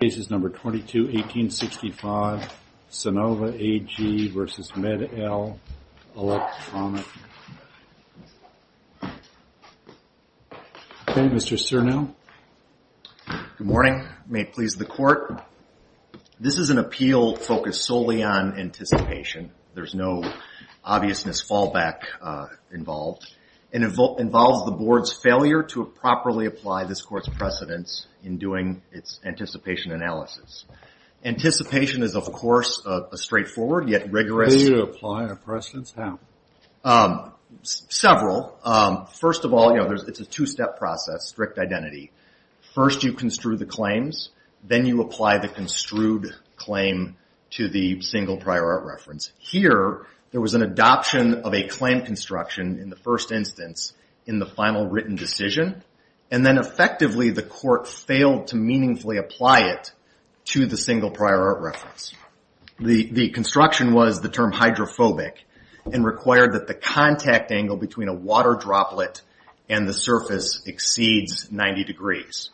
Cases No. 22-1865, Sinova AG v. MED-EL Elektromedizinische Gerate GmbH Okay, Mr. Cernu. Good morning. May it please the Court. This is an appeal focused solely on anticipation. There's no obviousness, fallback involved. It involves the Board's failure to properly apply this Court's precedence in doing its anticipation analysis. Anticipation is, of course, a straightforward yet rigorous... Do you apply a precedence? How? Several. First of all, it's a two-step process, strict identity. First, you construe the claims. Then you apply the construed claim to the single prior art reference. Here, there was an adoption of a claim construction in the first instance in the final written decision. Then, effectively, the Court failed to meaningfully apply it to the single prior art reference. The construction was the term hydrophobic and required that the contact angle between a water droplet and the surface exceeds 90 degrees.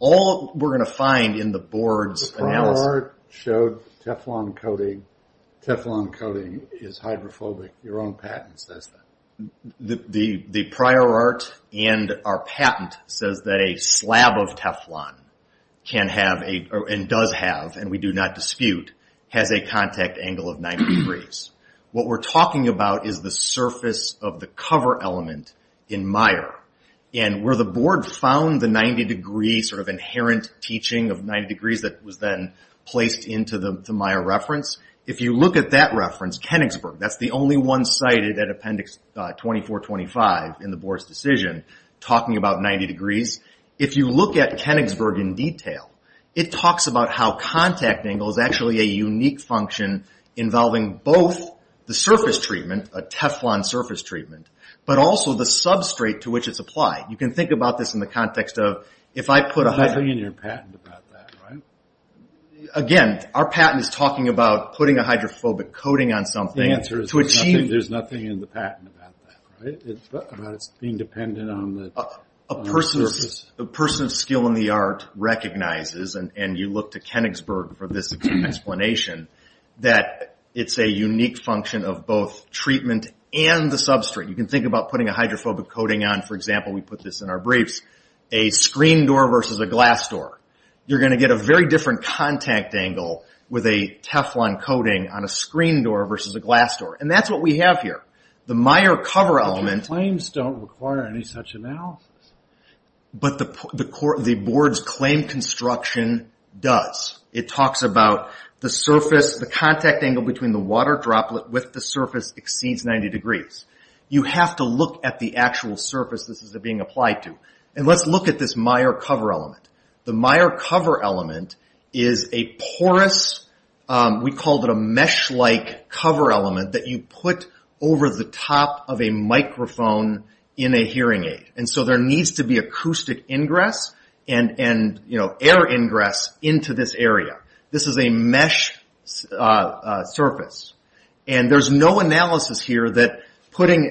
All we're going to find in the Board's analysis... Teflon coating is hydrophobic. Your own patent says that. The prior art and our patent says that a slab of Teflon can have, and does have, and we do not dispute, has a contact angle of 90 degrees. What we're talking about is the surface of the cover element in Meyer. Where the Board found the 90 degree inherent teaching of 90 degrees that was then placed into the Meyer reference, if you look at that reference, Kenigsburg, that's the only one cited at Appendix 2425 in the Board's decision, talking about 90 degrees. If you look at Kenigsburg in detail, it talks about how contact angle is actually a unique function involving both the surface treatment, a Teflon surface treatment, but also the substrate to which it's applied. You can think about this in the context of... Again, our patent is talking about putting a hydrophobic coating on something to achieve... The answer is there's nothing in the patent about that, about it being dependent on the... A person of skill in the art recognizes, and you look to Kenigsburg for this explanation, that it's a unique function of both treatment and the substrate. You can think about putting a hydrophobic coating on, for example, we put this in our briefs, a screen door versus a glass door. You're going to get a very different contact angle with a Teflon coating on a screen door versus a glass door, and that's what we have here. The Meyer cover element... But the claims don't require any such analysis. But the Board's claim construction does. It talks about the surface, the contact angle between the water droplet with the surface exceeds 90 degrees. You have to look at the actual surface this is being applied to, and let's look at this Meyer cover element. The Meyer cover element is a porous... We called it a mesh-like cover element that you put over the top of a microphone in a hearing aid. And so there needs to be acoustic ingress and air ingress into this area. This is a mesh surface, and there's no analysis here that putting...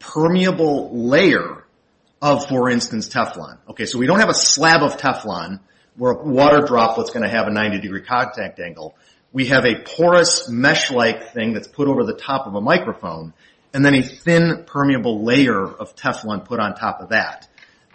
permeable layer of, for instance, Teflon. So we don't have a slab of Teflon where a water droplet's going to have a 90-degree contact angle. We have a porous mesh-like thing that's put over the top of a microphone, and then a thin permeable layer of Teflon put on top of that.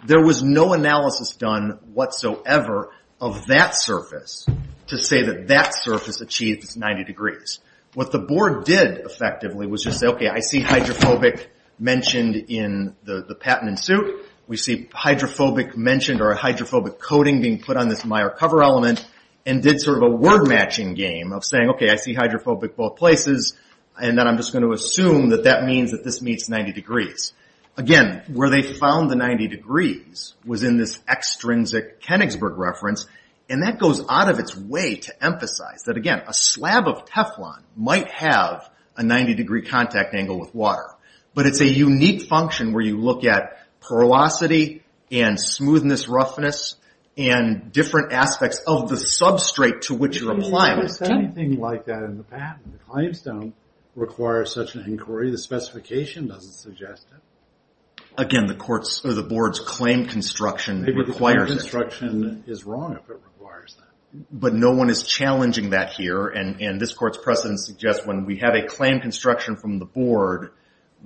There was no analysis done whatsoever of that surface to say that that surface achieves 90 degrees. What the board did, effectively, was just say, OK, I see hydrophobic mentioned in the patent in suit. We see hydrophobic mentioned or hydrophobic coating being put on this Meyer cover element, and did sort of a word-matching game of saying, OK, I see hydrophobic both places, and then I'm just going to assume that that means that this meets 90 degrees. Again, where they found the 90 degrees was in this extrinsic Königsberg reference, and that goes out of its way to emphasize that, again, a slab of Teflon might have a 90-degree contact angle with water, but it's a unique function where you look at porosity and smoothness, roughness, and different aspects of the substrate to which you're applying it. I've never seen anything like that in the patent. The claims don't require such an inquiry. The specification doesn't suggest it. Again, the board's claim construction requires it. But no one is challenging that here, and this court's precedent suggests when we have a claim construction from the board,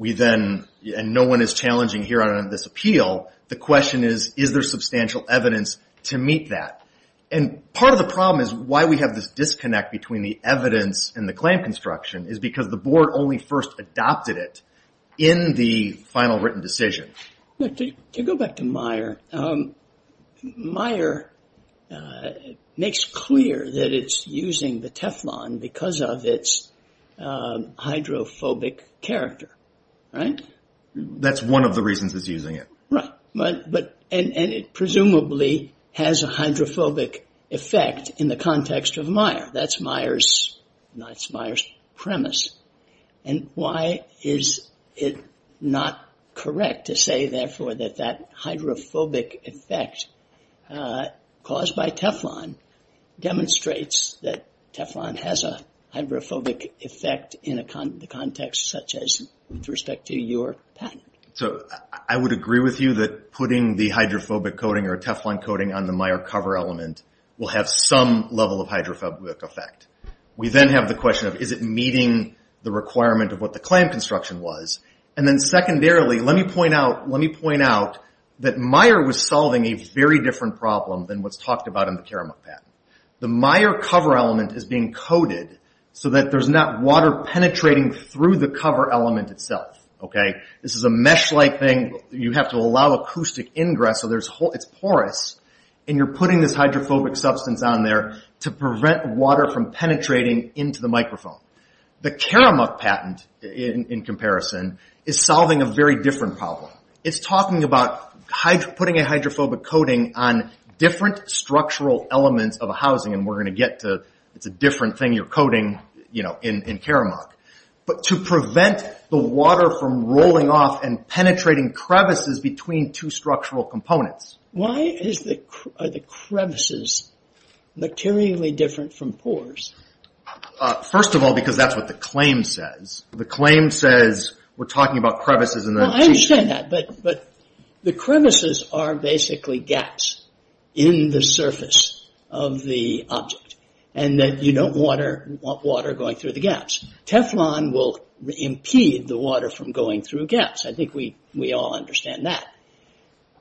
and no one is challenging here on this appeal, the question is, is there substantial evidence to meet that? Part of the problem is why we have this disconnect between the evidence and the claim construction is because the board only first adopted it in the final written decision. To go back to Maier, Maier makes clear that it's using the Teflon because of its hydrophobic character, right? That's one of the reasons it's using it. Right. And it presumably has a hydrophobic effect in the context of Maier. That's Maier's premise. And why is it not correct to say, therefore, that that hydrophobic effect caused by Teflon demonstrates that Teflon has a hydrophobic effect in the context, such as with respect to your patent? I would agree with you that putting the hydrophobic coating or Teflon coating on the Maier cover element will have some level of hydrophobic effect. We then have the question of, is it meeting the requirement of what the claim construction was? And then secondarily, let me point out that Maier was solving a very different problem than what's talked about in the Karamuk patent. The Maier cover element is being coated so that there's not water penetrating through the cover element itself. This is a mesh-like thing. You have to allow acoustic ingress, so it's porous, and you're putting this hydrophobic substance on there to prevent water from penetrating into the microphone. The Karamuk patent, in comparison, is solving a very different problem. It's talking about putting a hydrophobic coating on different structural elements of a housing, and we're going to get to it's a different thing you're coating in Karamuk, but to prevent the water from rolling off and penetrating crevices between two structural components. Why are the crevices materially different from pores? First of all, because that's what the claim says. The claim says we're talking about crevices in the... I understand that, but the crevices are basically gaps in the surface of the object, and you don't want water going through the gaps. Teflon will impede the water from going through gaps. I think we all understand that.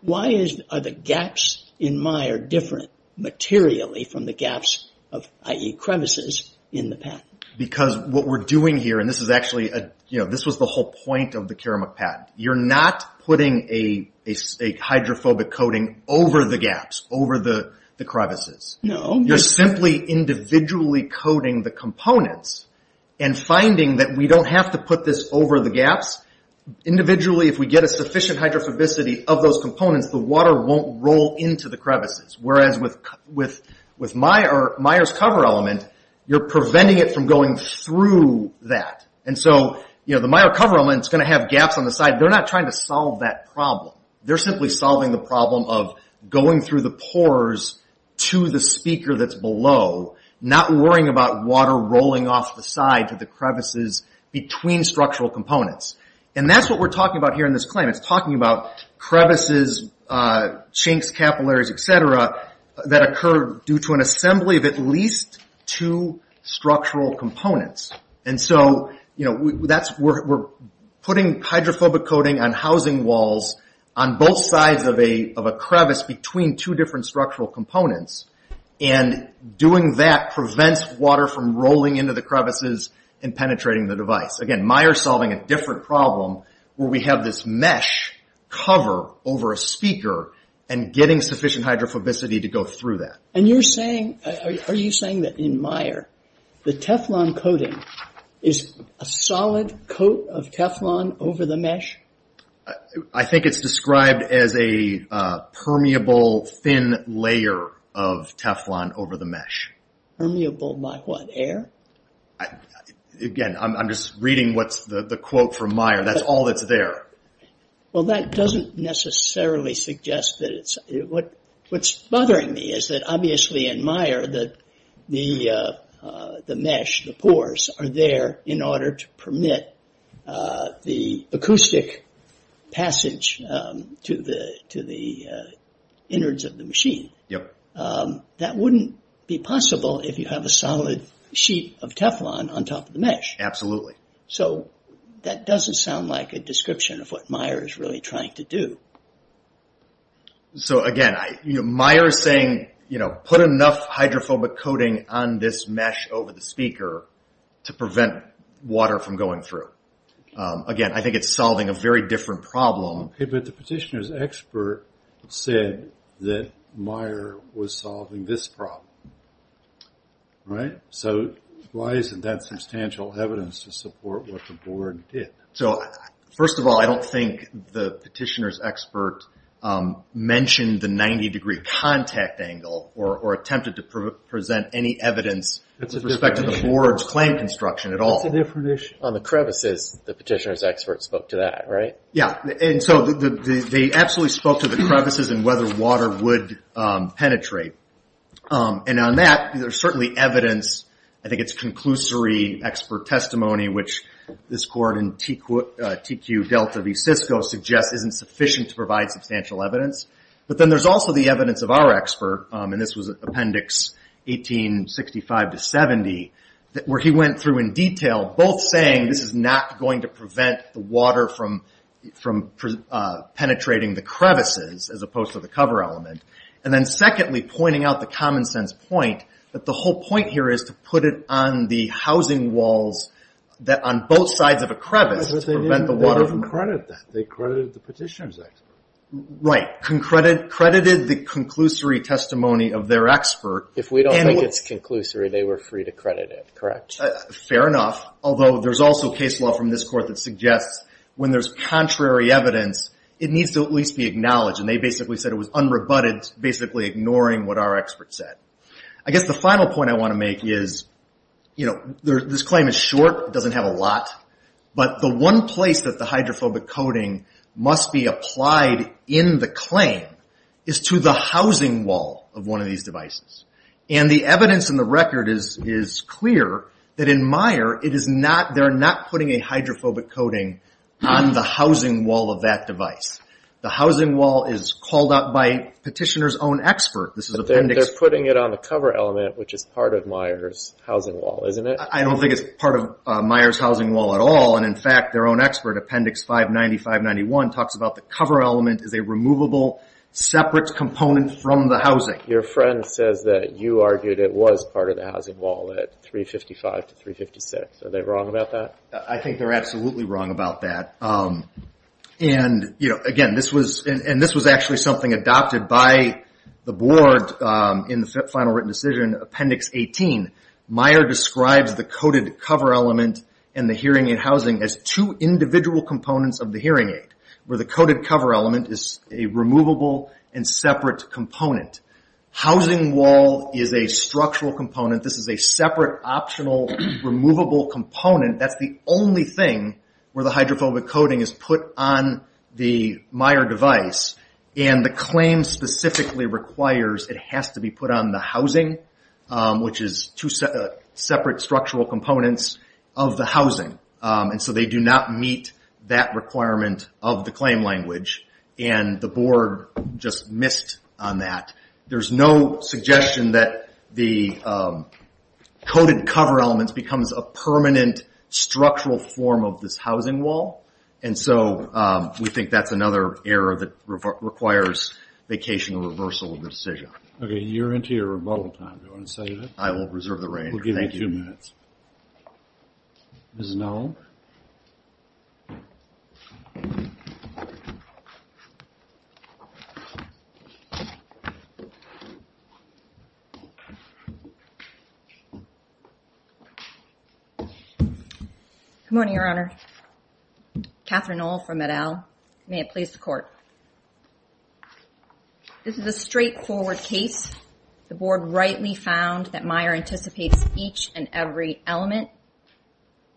Why are the gaps in Meyer different materially from the gaps, i.e. crevices, in the patent? Because what we're doing here, and this was the whole point of the Karamuk patent, you're not putting a hydrophobic coating over the gaps, over the crevices. No. You're simply individually coating the components Individually, if we get a sufficient hydrophobicity of those components, the water won't roll into the crevices, whereas with Meyer's cover element, you're preventing it from going through that. The Meyer cover element is going to have gaps on the side. They're not trying to solve that problem. They're simply solving the problem of going through the pores to the speaker that's below, not worrying about water rolling off the side to the crevices between structural components. That's what we're talking about here in this claim. It's talking about crevices, chinks, capillaries, etc., that occur due to an assembly of at least two structural components. We're putting hydrophobic coating on housing walls on both sides of a crevice between two different structural components, and doing that prevents water from rolling into the crevices and penetrating the device. Again, Meyer's solving a different problem where we have this mesh cover over a speaker and getting sufficient hydrophobicity to go through that. And you're saying, are you saying that in Meyer, the Teflon coating is a solid coat of Teflon over the mesh? I think it's described as a permeable, thin layer of Teflon over the mesh. Permeable by what, air? Again, I'm just reading what's the quote from Meyer. That's all that's there. Well, that doesn't necessarily suggest that it's... What's bothering me is that obviously in Meyer, the mesh, the pores, are there in order to permit the acoustic passage to the innards of the machine. That wouldn't be possible if you have a solid sheet of Teflon on top of the mesh. Absolutely. So that doesn't sound like a description of what Meyer is really trying to do. So again, Meyer is saying, put enough hydrophobic coating on this mesh over the speaker to prevent water from going through. Again, I think it's solving a very different problem. But the petitioner's expert said that Meyer was solving this problem. So why isn't that substantial evidence to support what the board did? First of all, I don't think the petitioner's expert mentioned the 90-degree contact angle or attempted to present any evidence with respect to the board's claim construction at all. On the crevices, the petitioner's expert spoke to that, right? Yeah. They absolutely spoke to the crevices and whether water would penetrate. And on that, there's certainly evidence. I think it's conclusory expert testimony, which this court in TQ Delta v. Cisco suggests isn't sufficient to provide substantial evidence. But then there's also the evidence of our expert, and this was Appendix 1865-70, where he went through in detail, both saying this is not going to prevent the water from penetrating the crevices as opposed to the cover element. And then secondly, pointing out the common sense point, that the whole point here is to put it on the housing walls on both sides of a crevice. But they didn't credit that. They credited the petitioner's expert. Right. Credited the conclusory testimony of their expert. If we don't think it's conclusory, they were free to credit it, correct? Fair enough, although there's also case law from this court that suggests when there's contrary evidence, it needs to at least be acknowledged. And they basically said it was unrebutted, basically ignoring what our expert said. I guess the final point I want to make is, this claim is short, doesn't have a lot, but the one place that the hydrophobic coating must be applied in the claim is to the housing wall of one of these devices. And the evidence in the record is clear that in Meyer, they're not putting a hydrophobic coating on the housing wall of that device. The housing wall is called out by petitioner's own expert. They're putting it on the cover element, which is part of Meyer's housing wall, isn't it? I don't think it's part of Meyer's housing wall at all. And, in fact, their own expert, Appendix 595-91, talks about the cover element as a removable, separate component from the housing. Your friend says that you argued it was part of the housing wall at 355 to 356. Are they wrong about that? I think they're absolutely wrong about that. And, again, this was actually something adopted by the board in the final written decision, Appendix 18. Meyer describes the coated cover element and the hearing aid housing as two individual components of the hearing aid, where the coated cover element is a removable and separate component. Housing wall is a structural component. This is a separate, optional, removable component. That's the only thing where the hydrophobic coating is put on the Meyer device, and the claim specifically requires it has to be put on the housing, which is two separate structural components of the housing. And so they do not meet that requirement of the claim language, and the board just missed on that. There's no suggestion that the coated cover element becomes a permanent, structural form of this housing wall, and so we think that's another error that requires vacational reversal of the decision. Okay, you're into your rebuttal time. Do you want to say that? I will reserve the rein. Thank you. We'll give you two minutes. Mrs. Nowell? Good morning, Your Honor. Catherine Nowell from Med-El. May it please the Court. This is a straightforward case. The board rightly found that Meyer anticipates each and every element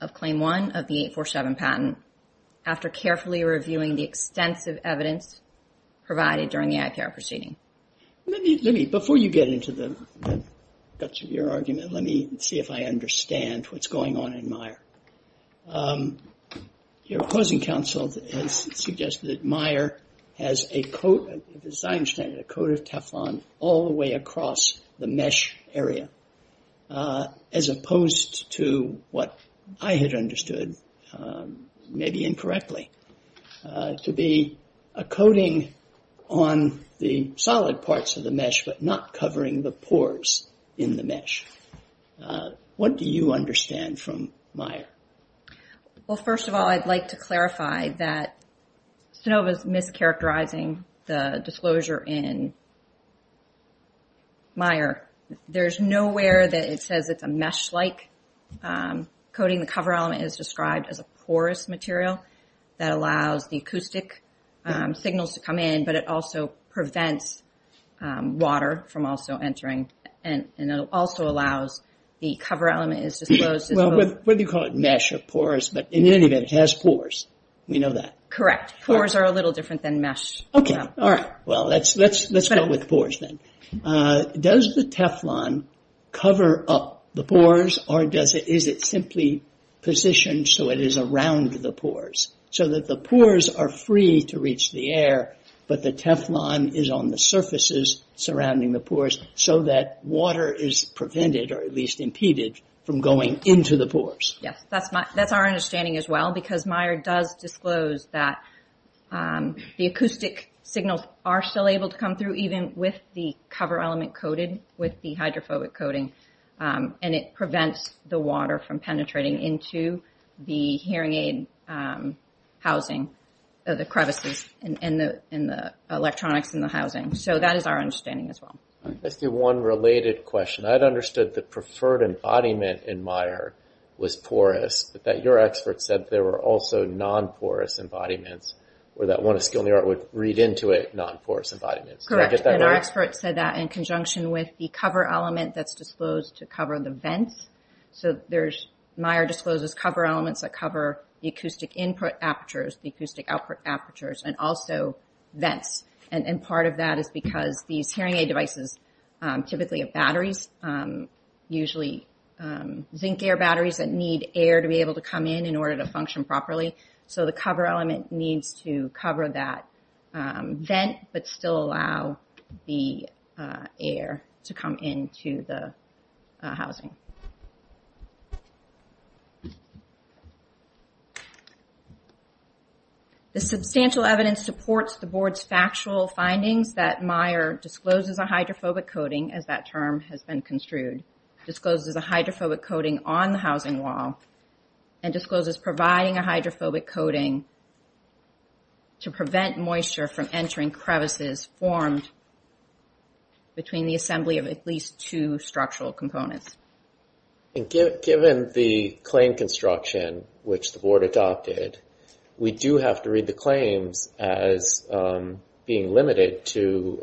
of Claim 1 of the 847 patent after carefully reviewing the extensive evidence provided during the IPR proceeding. Before you get into the guts of your argument, let me see if I understand what's going on in Meyer. Your opposing counsel has suggested that Meyer has, as I understand it, a coat of Teflon all the way across the mesh area, as opposed to what I had understood, maybe incorrectly, to be a coating on the solid parts of the mesh, but not covering the pores in the mesh. What do you understand from Meyer? Well, first of all, I'd like to clarify that Stanova is mischaracterizing the disclosure in Meyer. There's nowhere that it says it's a mesh-like coating. The cover element is described as a porous material that allows the acoustic signals to come in, but it also prevents water from also entering, and it also allows the cover element is disclosed. Well, whether you call it mesh or porous, but in any event, it has pores. We know that. Correct. Pores are a little different than mesh. Okay. Well, let's start with pores then. Does the Teflon cover up the pores, or is it simply positioned so it is around the pores, so that the pores are free to reach the air, but the Teflon is on the surfaces surrounding the pores, so that water is prevented, or at least impeded, from going into the pores? Yes. That's our understanding as well, because Meyer does disclose that the acoustic signals are still able to come through, even with the cover element coated with the hydrophobic coating, and it prevents the water from penetrating into the hearing aid housing, the crevices in the electronics in the housing. So that is our understanding as well. Let's do one related question. I had understood the preferred embodiment in Meyer was porous, but your expert said there were also non-porous embodiments, or that one of skill in the art would read into it, non-porous embodiments. Correct. And our expert said that in conjunction with the cover element that's disclosed to cover the vents, so Meyer discloses cover elements that cover the acoustic input apertures, the acoustic output apertures, and also vents. And part of that is because these hearing aid devices typically have batteries, usually zinc-air batteries that need air to be able to come in in order to function properly, so the cover element needs to cover that vent, but still allow the air to come into the housing. The substantial evidence supports the board's factual findings that Meyer discloses a hydrophobic coating, as that term has been construed, discloses a hydrophobic coating on the housing wall, and discloses providing a hydrophobic coating to prevent moisture from entering crevices formed between the assembly of at least two structural components. Given the claim construction, which the board adopted, we do have to read the claims as being limited to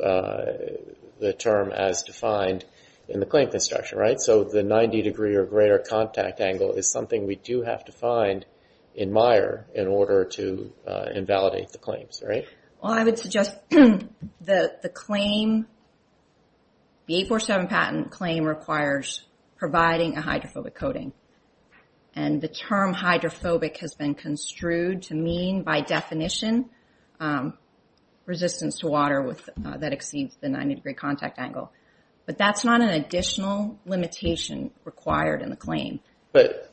the term as defined in the claim construction, right? So the 90 degree or greater contact angle is something we do have to find in Meyer in order to invalidate the claims, right? Well, I would suggest that the claim, the 847 patent claim requires providing a hydrophobic coating. And the term hydrophobic has been construed to mean, by definition, resistance to water that exceeds the 90 degree contact angle. But that's not an additional limitation required in the claim. But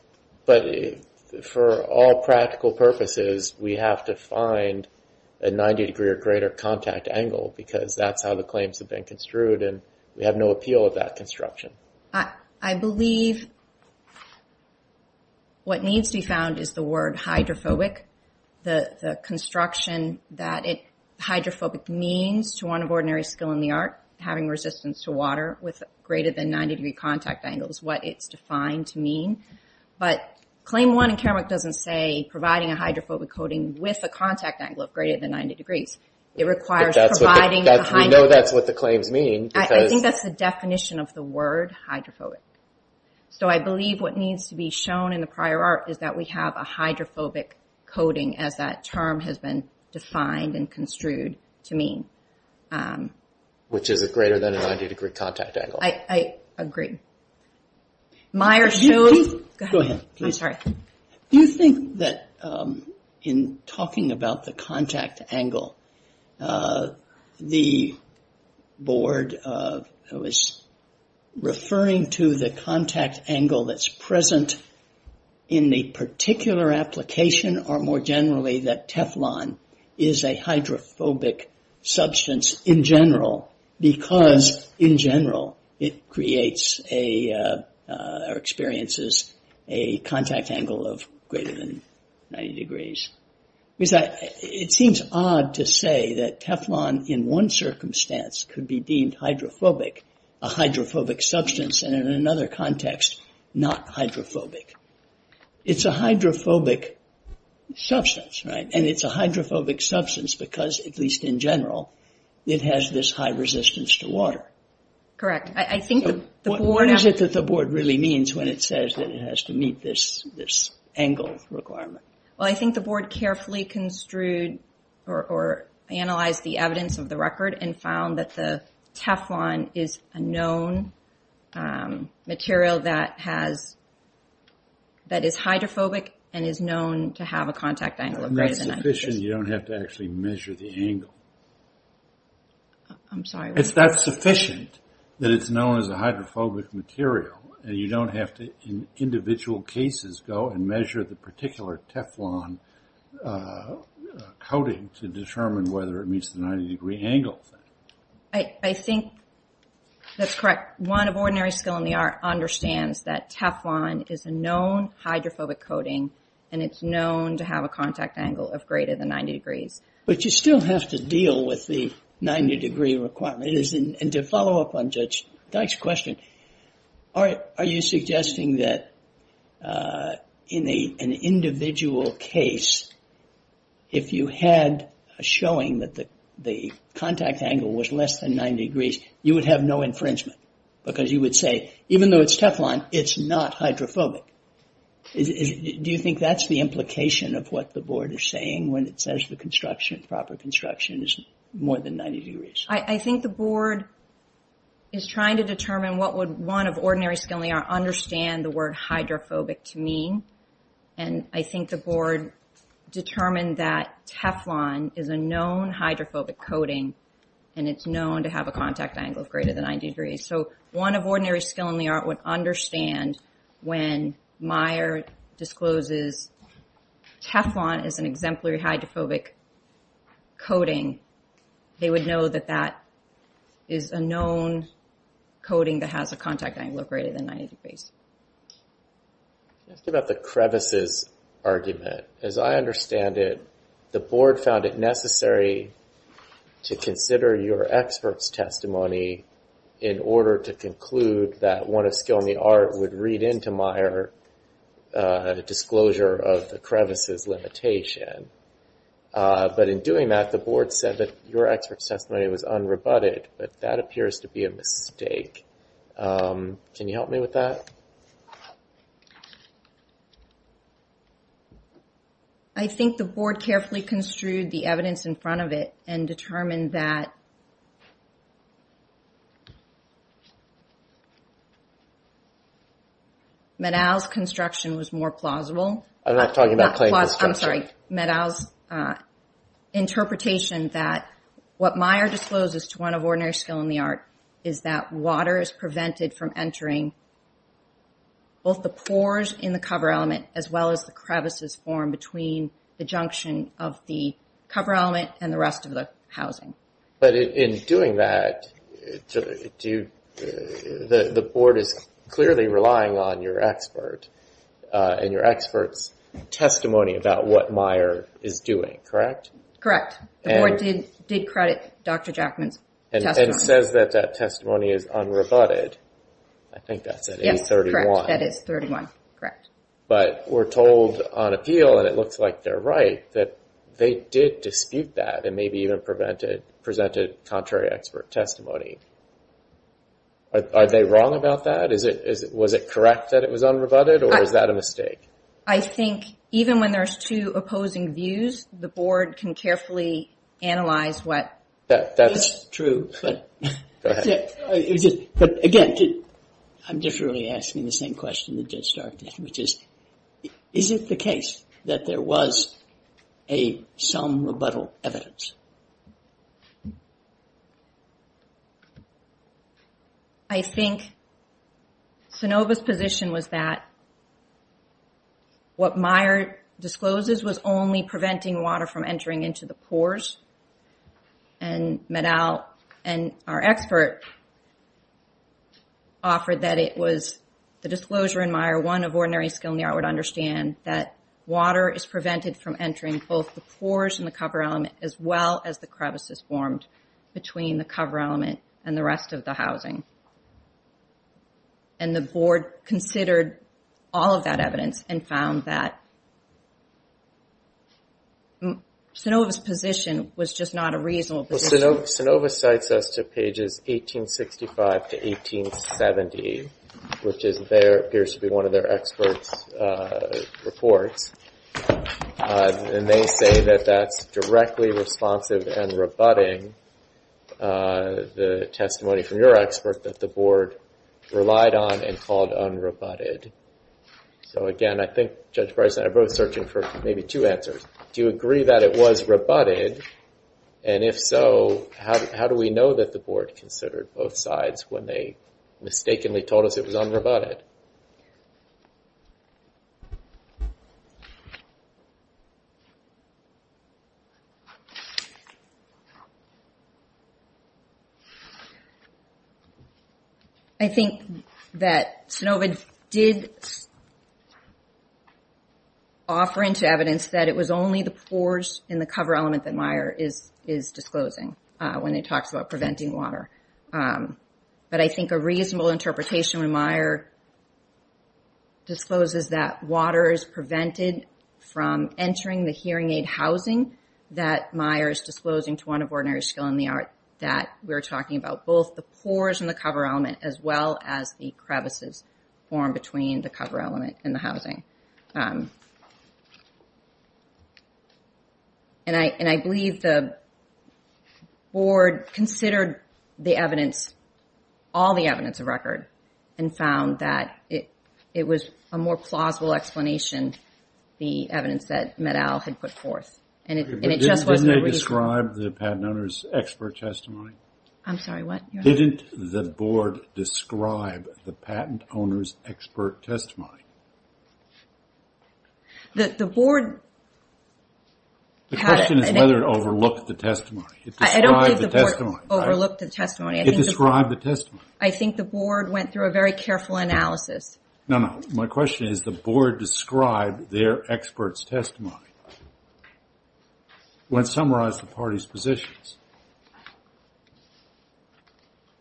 for all practical purposes, we have to find a 90 degree or greater contact angle because that's how the claims have been construed, and we have no appeal of that construction. I believe what needs to be found is the word hydrophobic. The construction that hydrophobic means to one of ordinary skill in the art, having resistance to water with greater than 90 degree contact angle is what it's defined to mean. But Claim 1 in Kermack doesn't say providing a hydrophobic coating with a contact angle of greater than 90 degrees. It requires providing a hydrophobic... We know that's what the claims mean because... I think that's the definition of the word hydrophobic. So I believe what needs to be shown in the prior art is that we have a hydrophobic coating as that term has been defined and construed to mean. Which is a greater than 90 degree contact angle. I agree. Myers-Jones? Go ahead. I'm sorry. Do you think that in talking about the contact angle, the board was referring to the contact angle that's present in the particular application or more generally that Teflon is a hydrophobic substance in general because in general it creates or experiences a contact angle of greater than 90 degrees? It seems odd to say that Teflon in one circumstance could be deemed hydrophobic, a hydrophobic substance, and in another context, not hydrophobic. It's a hydrophobic substance, right? And it's a hydrophobic substance because, at least in general, it has this high resistance to water. Correct. What is it that the board really means when it says that it has to meet this angle requirement? Well, I think the board carefully construed or analyzed the evidence of the record and found that the Teflon is a known material that is hydrophobic and is known to have a contact angle of greater than 90 degrees. It's sufficient you don't have to actually measure the angle. I'm sorry. It's that sufficient that it's known as a hydrophobic material and you don't have to, in individual cases, go and measure the particular Teflon coating to determine whether it meets the 90 degree angle. I think that's correct. One of ordinary skill in the art understands that Teflon is a known hydrophobic coating and it's known to have a contact angle of greater than 90 degrees. But you still have to deal with the 90 degree requirement. And to follow up on Judge Dyke's question, are you suggesting that in an individual case, if you had a showing that the contact angle was less than 90 degrees, you would have no infringement? Because you would say, even though it's Teflon, it's not hydrophobic. Do you think that's the implication of what the board is saying when it says the construction, proper construction, is more than 90 degrees? I think the board is trying to determine what would one of ordinary skill in the art understand the word hydrophobic to mean. And I think the board determined that Teflon is a known hydrophobic coating and it's known to have a contact angle of greater than 90 degrees. So one of ordinary skill in the art would understand when Meyer discloses Teflon is an exemplary hydrophobic coating, they would know that that is a known coating that has a contact angle of greater than 90 degrees. Just about the crevices argument, as I understand it, the board found it necessary to consider your expert's testimony in order to conclude that one of skill in the art would read into Meyer the disclosure of the crevices limitation. But in doing that, the board said that your expert's testimony was unrebutted. But that appears to be a mistake. Can you help me with that? I think the board carefully construed the evidence in front of it and determined that... Medow's construction was more plausible. I'm not talking about clay construction. Medow's interpretation that what Meyer discloses to one of ordinary skill in the art is that water is prevented from entering both the pores in the cover element as well as the crevices formed between the junction of the cover element and the rest of the housing. But in doing that, the board is clearly relying on your expert and your expert's testimony about what Meyer is doing. Correct? Correct. The board did credit Dr. Jackman's testimony. And says that that testimony is unrebutted. I think that's at 831. Yes, correct. That is 31. Correct. But we're told on appeal, and it looks like they're right, that they did dispute that and maybe even presented contrary expert testimony. Are they wrong about that? Was it correct that it was unrebutted, or is that a mistake? I think even when there's two opposing views, the board can carefully analyze what... That's true. Go ahead. Again, I'm just really asking the same question that just started, which is, is it the case that there was some rebuttal evidence? I think Sanova's position was that what Meyer discloses was only preventing water from entering into the pores. And Meddow and our expert offered that it was the disclosure in Meyer, one of ordinary skill in the art, would understand that water is prevented from entering both the pores and the cover element as well as the crevices formed between the cover element and the rest of the housing. And the board considered all of that evidence and found that Sanova's position was just not a reasonable position. Sanova cites us to pages 1865 to 1870, which appears to be one of their experts' reports. And they say that that's directly responsive and rebutting the testimony from your expert that the board relied on and called unrebutted. So again, I think Judge Bryson and I are both searching for maybe two answers. Do you agree that it was rebutted? And if so, how do we know that the board considered both sides when they mistakenly told us it was unrebutted? I think that Sanova did offer into evidence that it was only the pores and the cover element that Meyer is disclosing when he talks about preventing water. But I think a reasonable interpretation when Meyer discloses that water is prevented from entering the hearing aid housing that Meyer is disclosing to one of ordinary skill in the art that we're talking about both the pores and the cover element as well as the crevices formed between the cover element and the housing. And I believe the board considered the evidence, all the evidence of record, and found that it was a more plausible explanation, the evidence that Meddow had put forth. Didn't they describe the patent owner's expert testimony? I'm sorry, what? Didn't the board describe the patent owner's expert testimony? The board... The question is whether it overlooked the testimony. I don't think the board overlooked the testimony. It described the testimony. I think the board went through a very careful analysis. No, no, my question is the board described their expert's testimony when it summarized the parties' positions.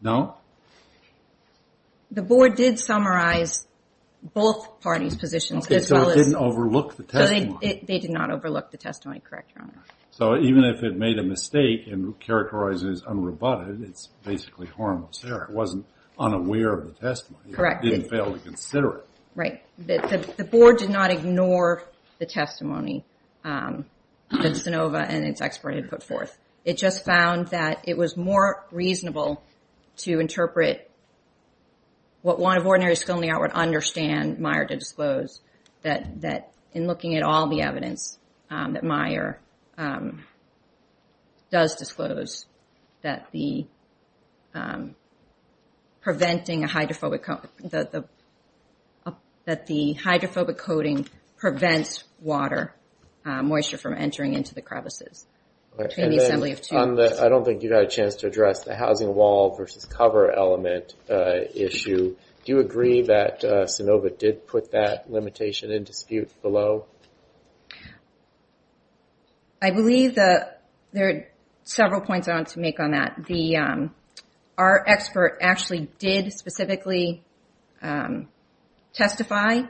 No? The board did summarize both parties' positions as well as... Okay, so it didn't overlook the testimony. They did not overlook the testimony, correct, Your Honor. So even if it made a mistake and characterized it as unrebutted, it's basically harmless there. It wasn't unaware of the testimony. Correct. It didn't fail to consider it. Right. The board did not ignore the testimony that Sanova and its expert had put forth. It just found that it was more reasonable to interpret what one of ordinary skill in the art would understand Meyer to disclose, that in looking at all the evidence that Meyer does disclose, that the preventing a hydrophobic coating prevents water moisture from entering into the crevices. I don't think you've had a chance to address the housing wall versus cover element issue. Do you agree that Sanova did put that limitation in dispute below? I believe there are several points I want to make on that. Our expert actually did specifically testify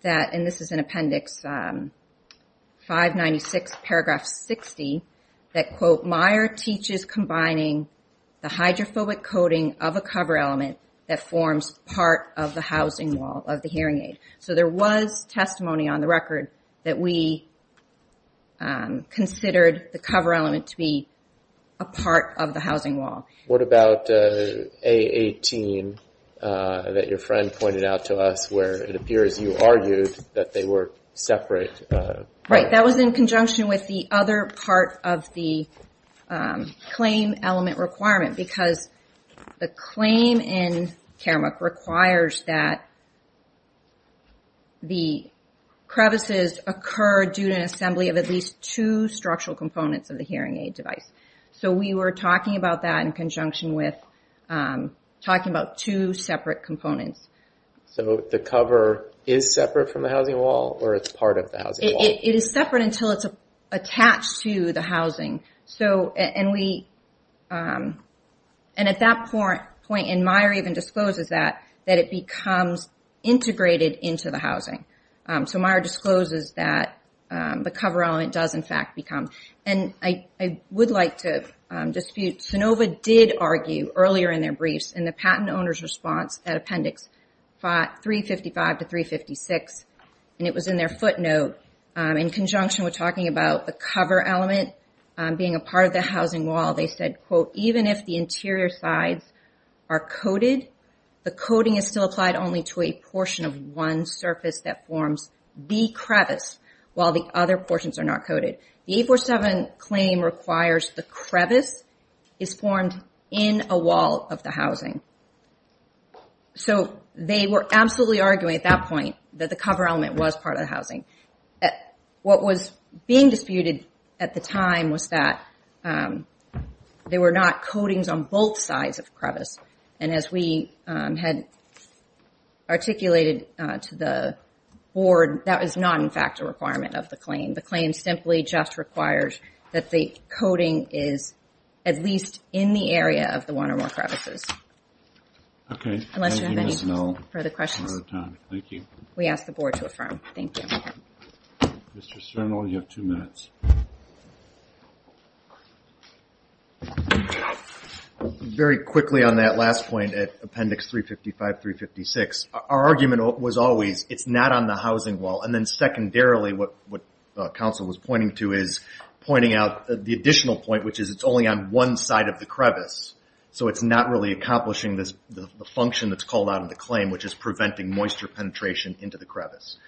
that, and this is in Appendix 596, Paragraph 60, that, quote, Meyer teaches combining the hydrophobic coating of a cover element that forms part of the housing wall of the hearing aid. So there was testimony on the record that we considered the cover element to be a part of the housing wall. What about A18 that your friend pointed out to us where it appears you argued that they were separate? Right. That was in conjunction with the other part of the claim element requirement because the claim in Karamuk requires that the crevices occur due to an assembly of at least two structural components of the hearing aid device. So we were talking about that in conjunction with talking about two separate components. So the cover is separate from the housing wall, or it's part of the housing wall? It is separate until it's attached to the housing. And at that point, Meyer even discloses that it becomes integrated into the housing. So Meyer discloses that the cover element does, in fact, become. And I would like to dispute Sanova did argue earlier in their briefs, in the patent owner's response at appendix 355 to 356, and it was in their footnote, in conjunction with talking about the cover element being a part of the housing wall, they said, quote, even if the interior sides are coated, the coating is still applied only to a portion of one surface that forms the crevice while the other portions are not coated. The 847 claim requires the crevice is formed in a wall of the housing. So they were absolutely arguing at that point that the cover element was part of the housing. What was being disputed at the time was that there were not coatings on both sides of crevice. And as we had articulated to the board, that was not in fact a requirement of the claim. The claim simply just requires that the coating is at least in the area of the one or more crevices. Okay. Unless you have any further questions. Thank you. We asked the board to affirm. Thank you. Mr. Cernal, you have two minutes. Very quickly on that last point at appendix 355, 356, our argument was always it's not on the housing wall. And then secondarily, what the council was pointing to is pointing out the additional point, which is it's only on one side of the crevice. So it's not really accomplishing the function that's called out of the claim, which is preventing moisture penetration into the crevice.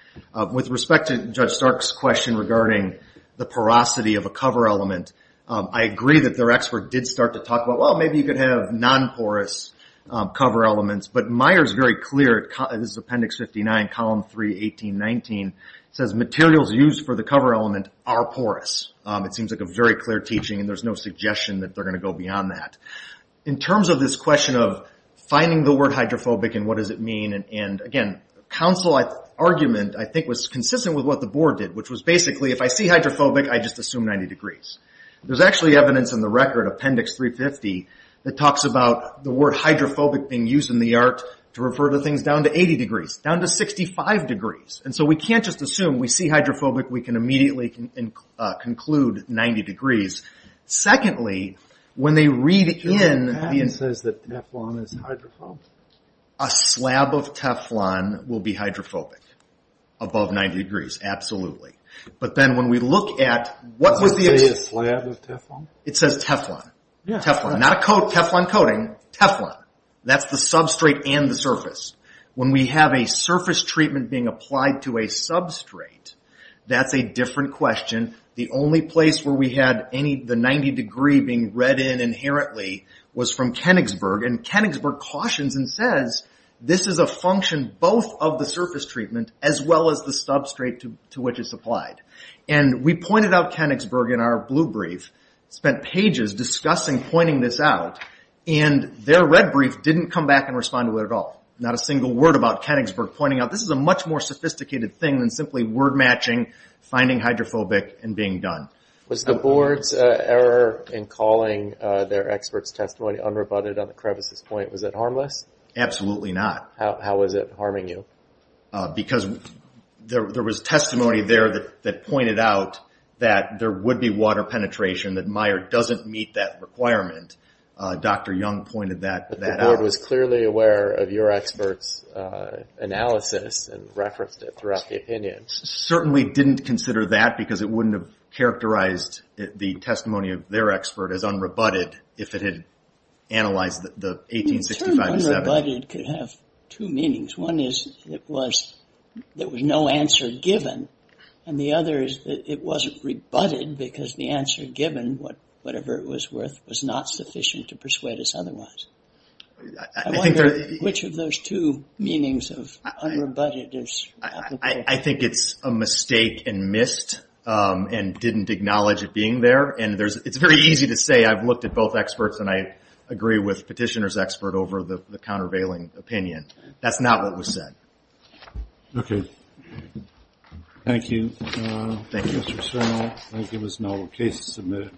With respect to Judge Stark's question regarding the porosity of a cover element, I agree that their expert did start to talk about, well, maybe you could have non-porous cover elements. But Meyer's very clear, this is appendix 59, column 3, 18, 19, says materials used for the cover element are porous. It seems like a very clear teaching and there's no suggestion that they're going to go beyond that. In terms of this question of finding the word hydrophobic and what does it mean? And again, council argument I think was consistent with what the board did, which was basically, if I see hydrophobic, I just assume 90 degrees. There's actually evidence in the record, appendix 350, that talks about the word hydrophobic being used in the art to refer to things down to 80 degrees, down to 65 degrees. And so, we can't just assume, we see hydrophobic, we can immediately conclude 90 degrees. Secondly, when they read in... The patent says that Teflon is hydrophobic. A slab of Teflon will be hydrophobic, above 90 degrees, absolutely. But then when we look at... What's the... Does it say a slab of Teflon? It says Teflon. Yeah. Teflon, not a coat, Teflon coating, Teflon. That's the substrate and the surface. When we have a surface treatment being applied to a substrate, that's a different question. The only place where we had any... The 90 degree being read in inherently, was from Koenigsberg. And Koenigsberg cautions and says, this is a function both of the surface treatment, as well as the substrate to which it's applied. And we pointed out Koenigsberg in our blue brief, spent pages discussing pointing this out, and their red brief didn't come back and respond to it at all. Not a single word about Koenigsberg, pointing out this is a much more sophisticated thing than simply word matching, finding hydrophobic, and being done. Was the board's error in calling their expert's testimony unrebutted on the crevices point, was it harmless? Absolutely not. How was it harming you? Because there was testimony there that pointed out that there would be water penetration, that Meijer doesn't meet that requirement, Dr. Young pointed that out. But the board was clearly aware of your expert's analysis and referenced it throughout the opinion. Certainly didn't consider that because it wouldn't have characterized the testimony of their expert as unrebutted if it had analyzed the 1865... The term unrebutted could have two meanings. One is it was... There was no answer given. And the other is that it wasn't rebutted because the answer given, whatever it was worth, was not sufficient to persuade us otherwise. I wonder which of those two meanings of unrebutted... I think it's a mistake and missed and didn't acknowledge it being there. And it's very easy to say I've looked at both experts and I agree with petitioner's expert over the countervailing opinion. That's not what was said. Okay. Thank you. Thank you. Thank you so much. Thank you. There was no case to submit.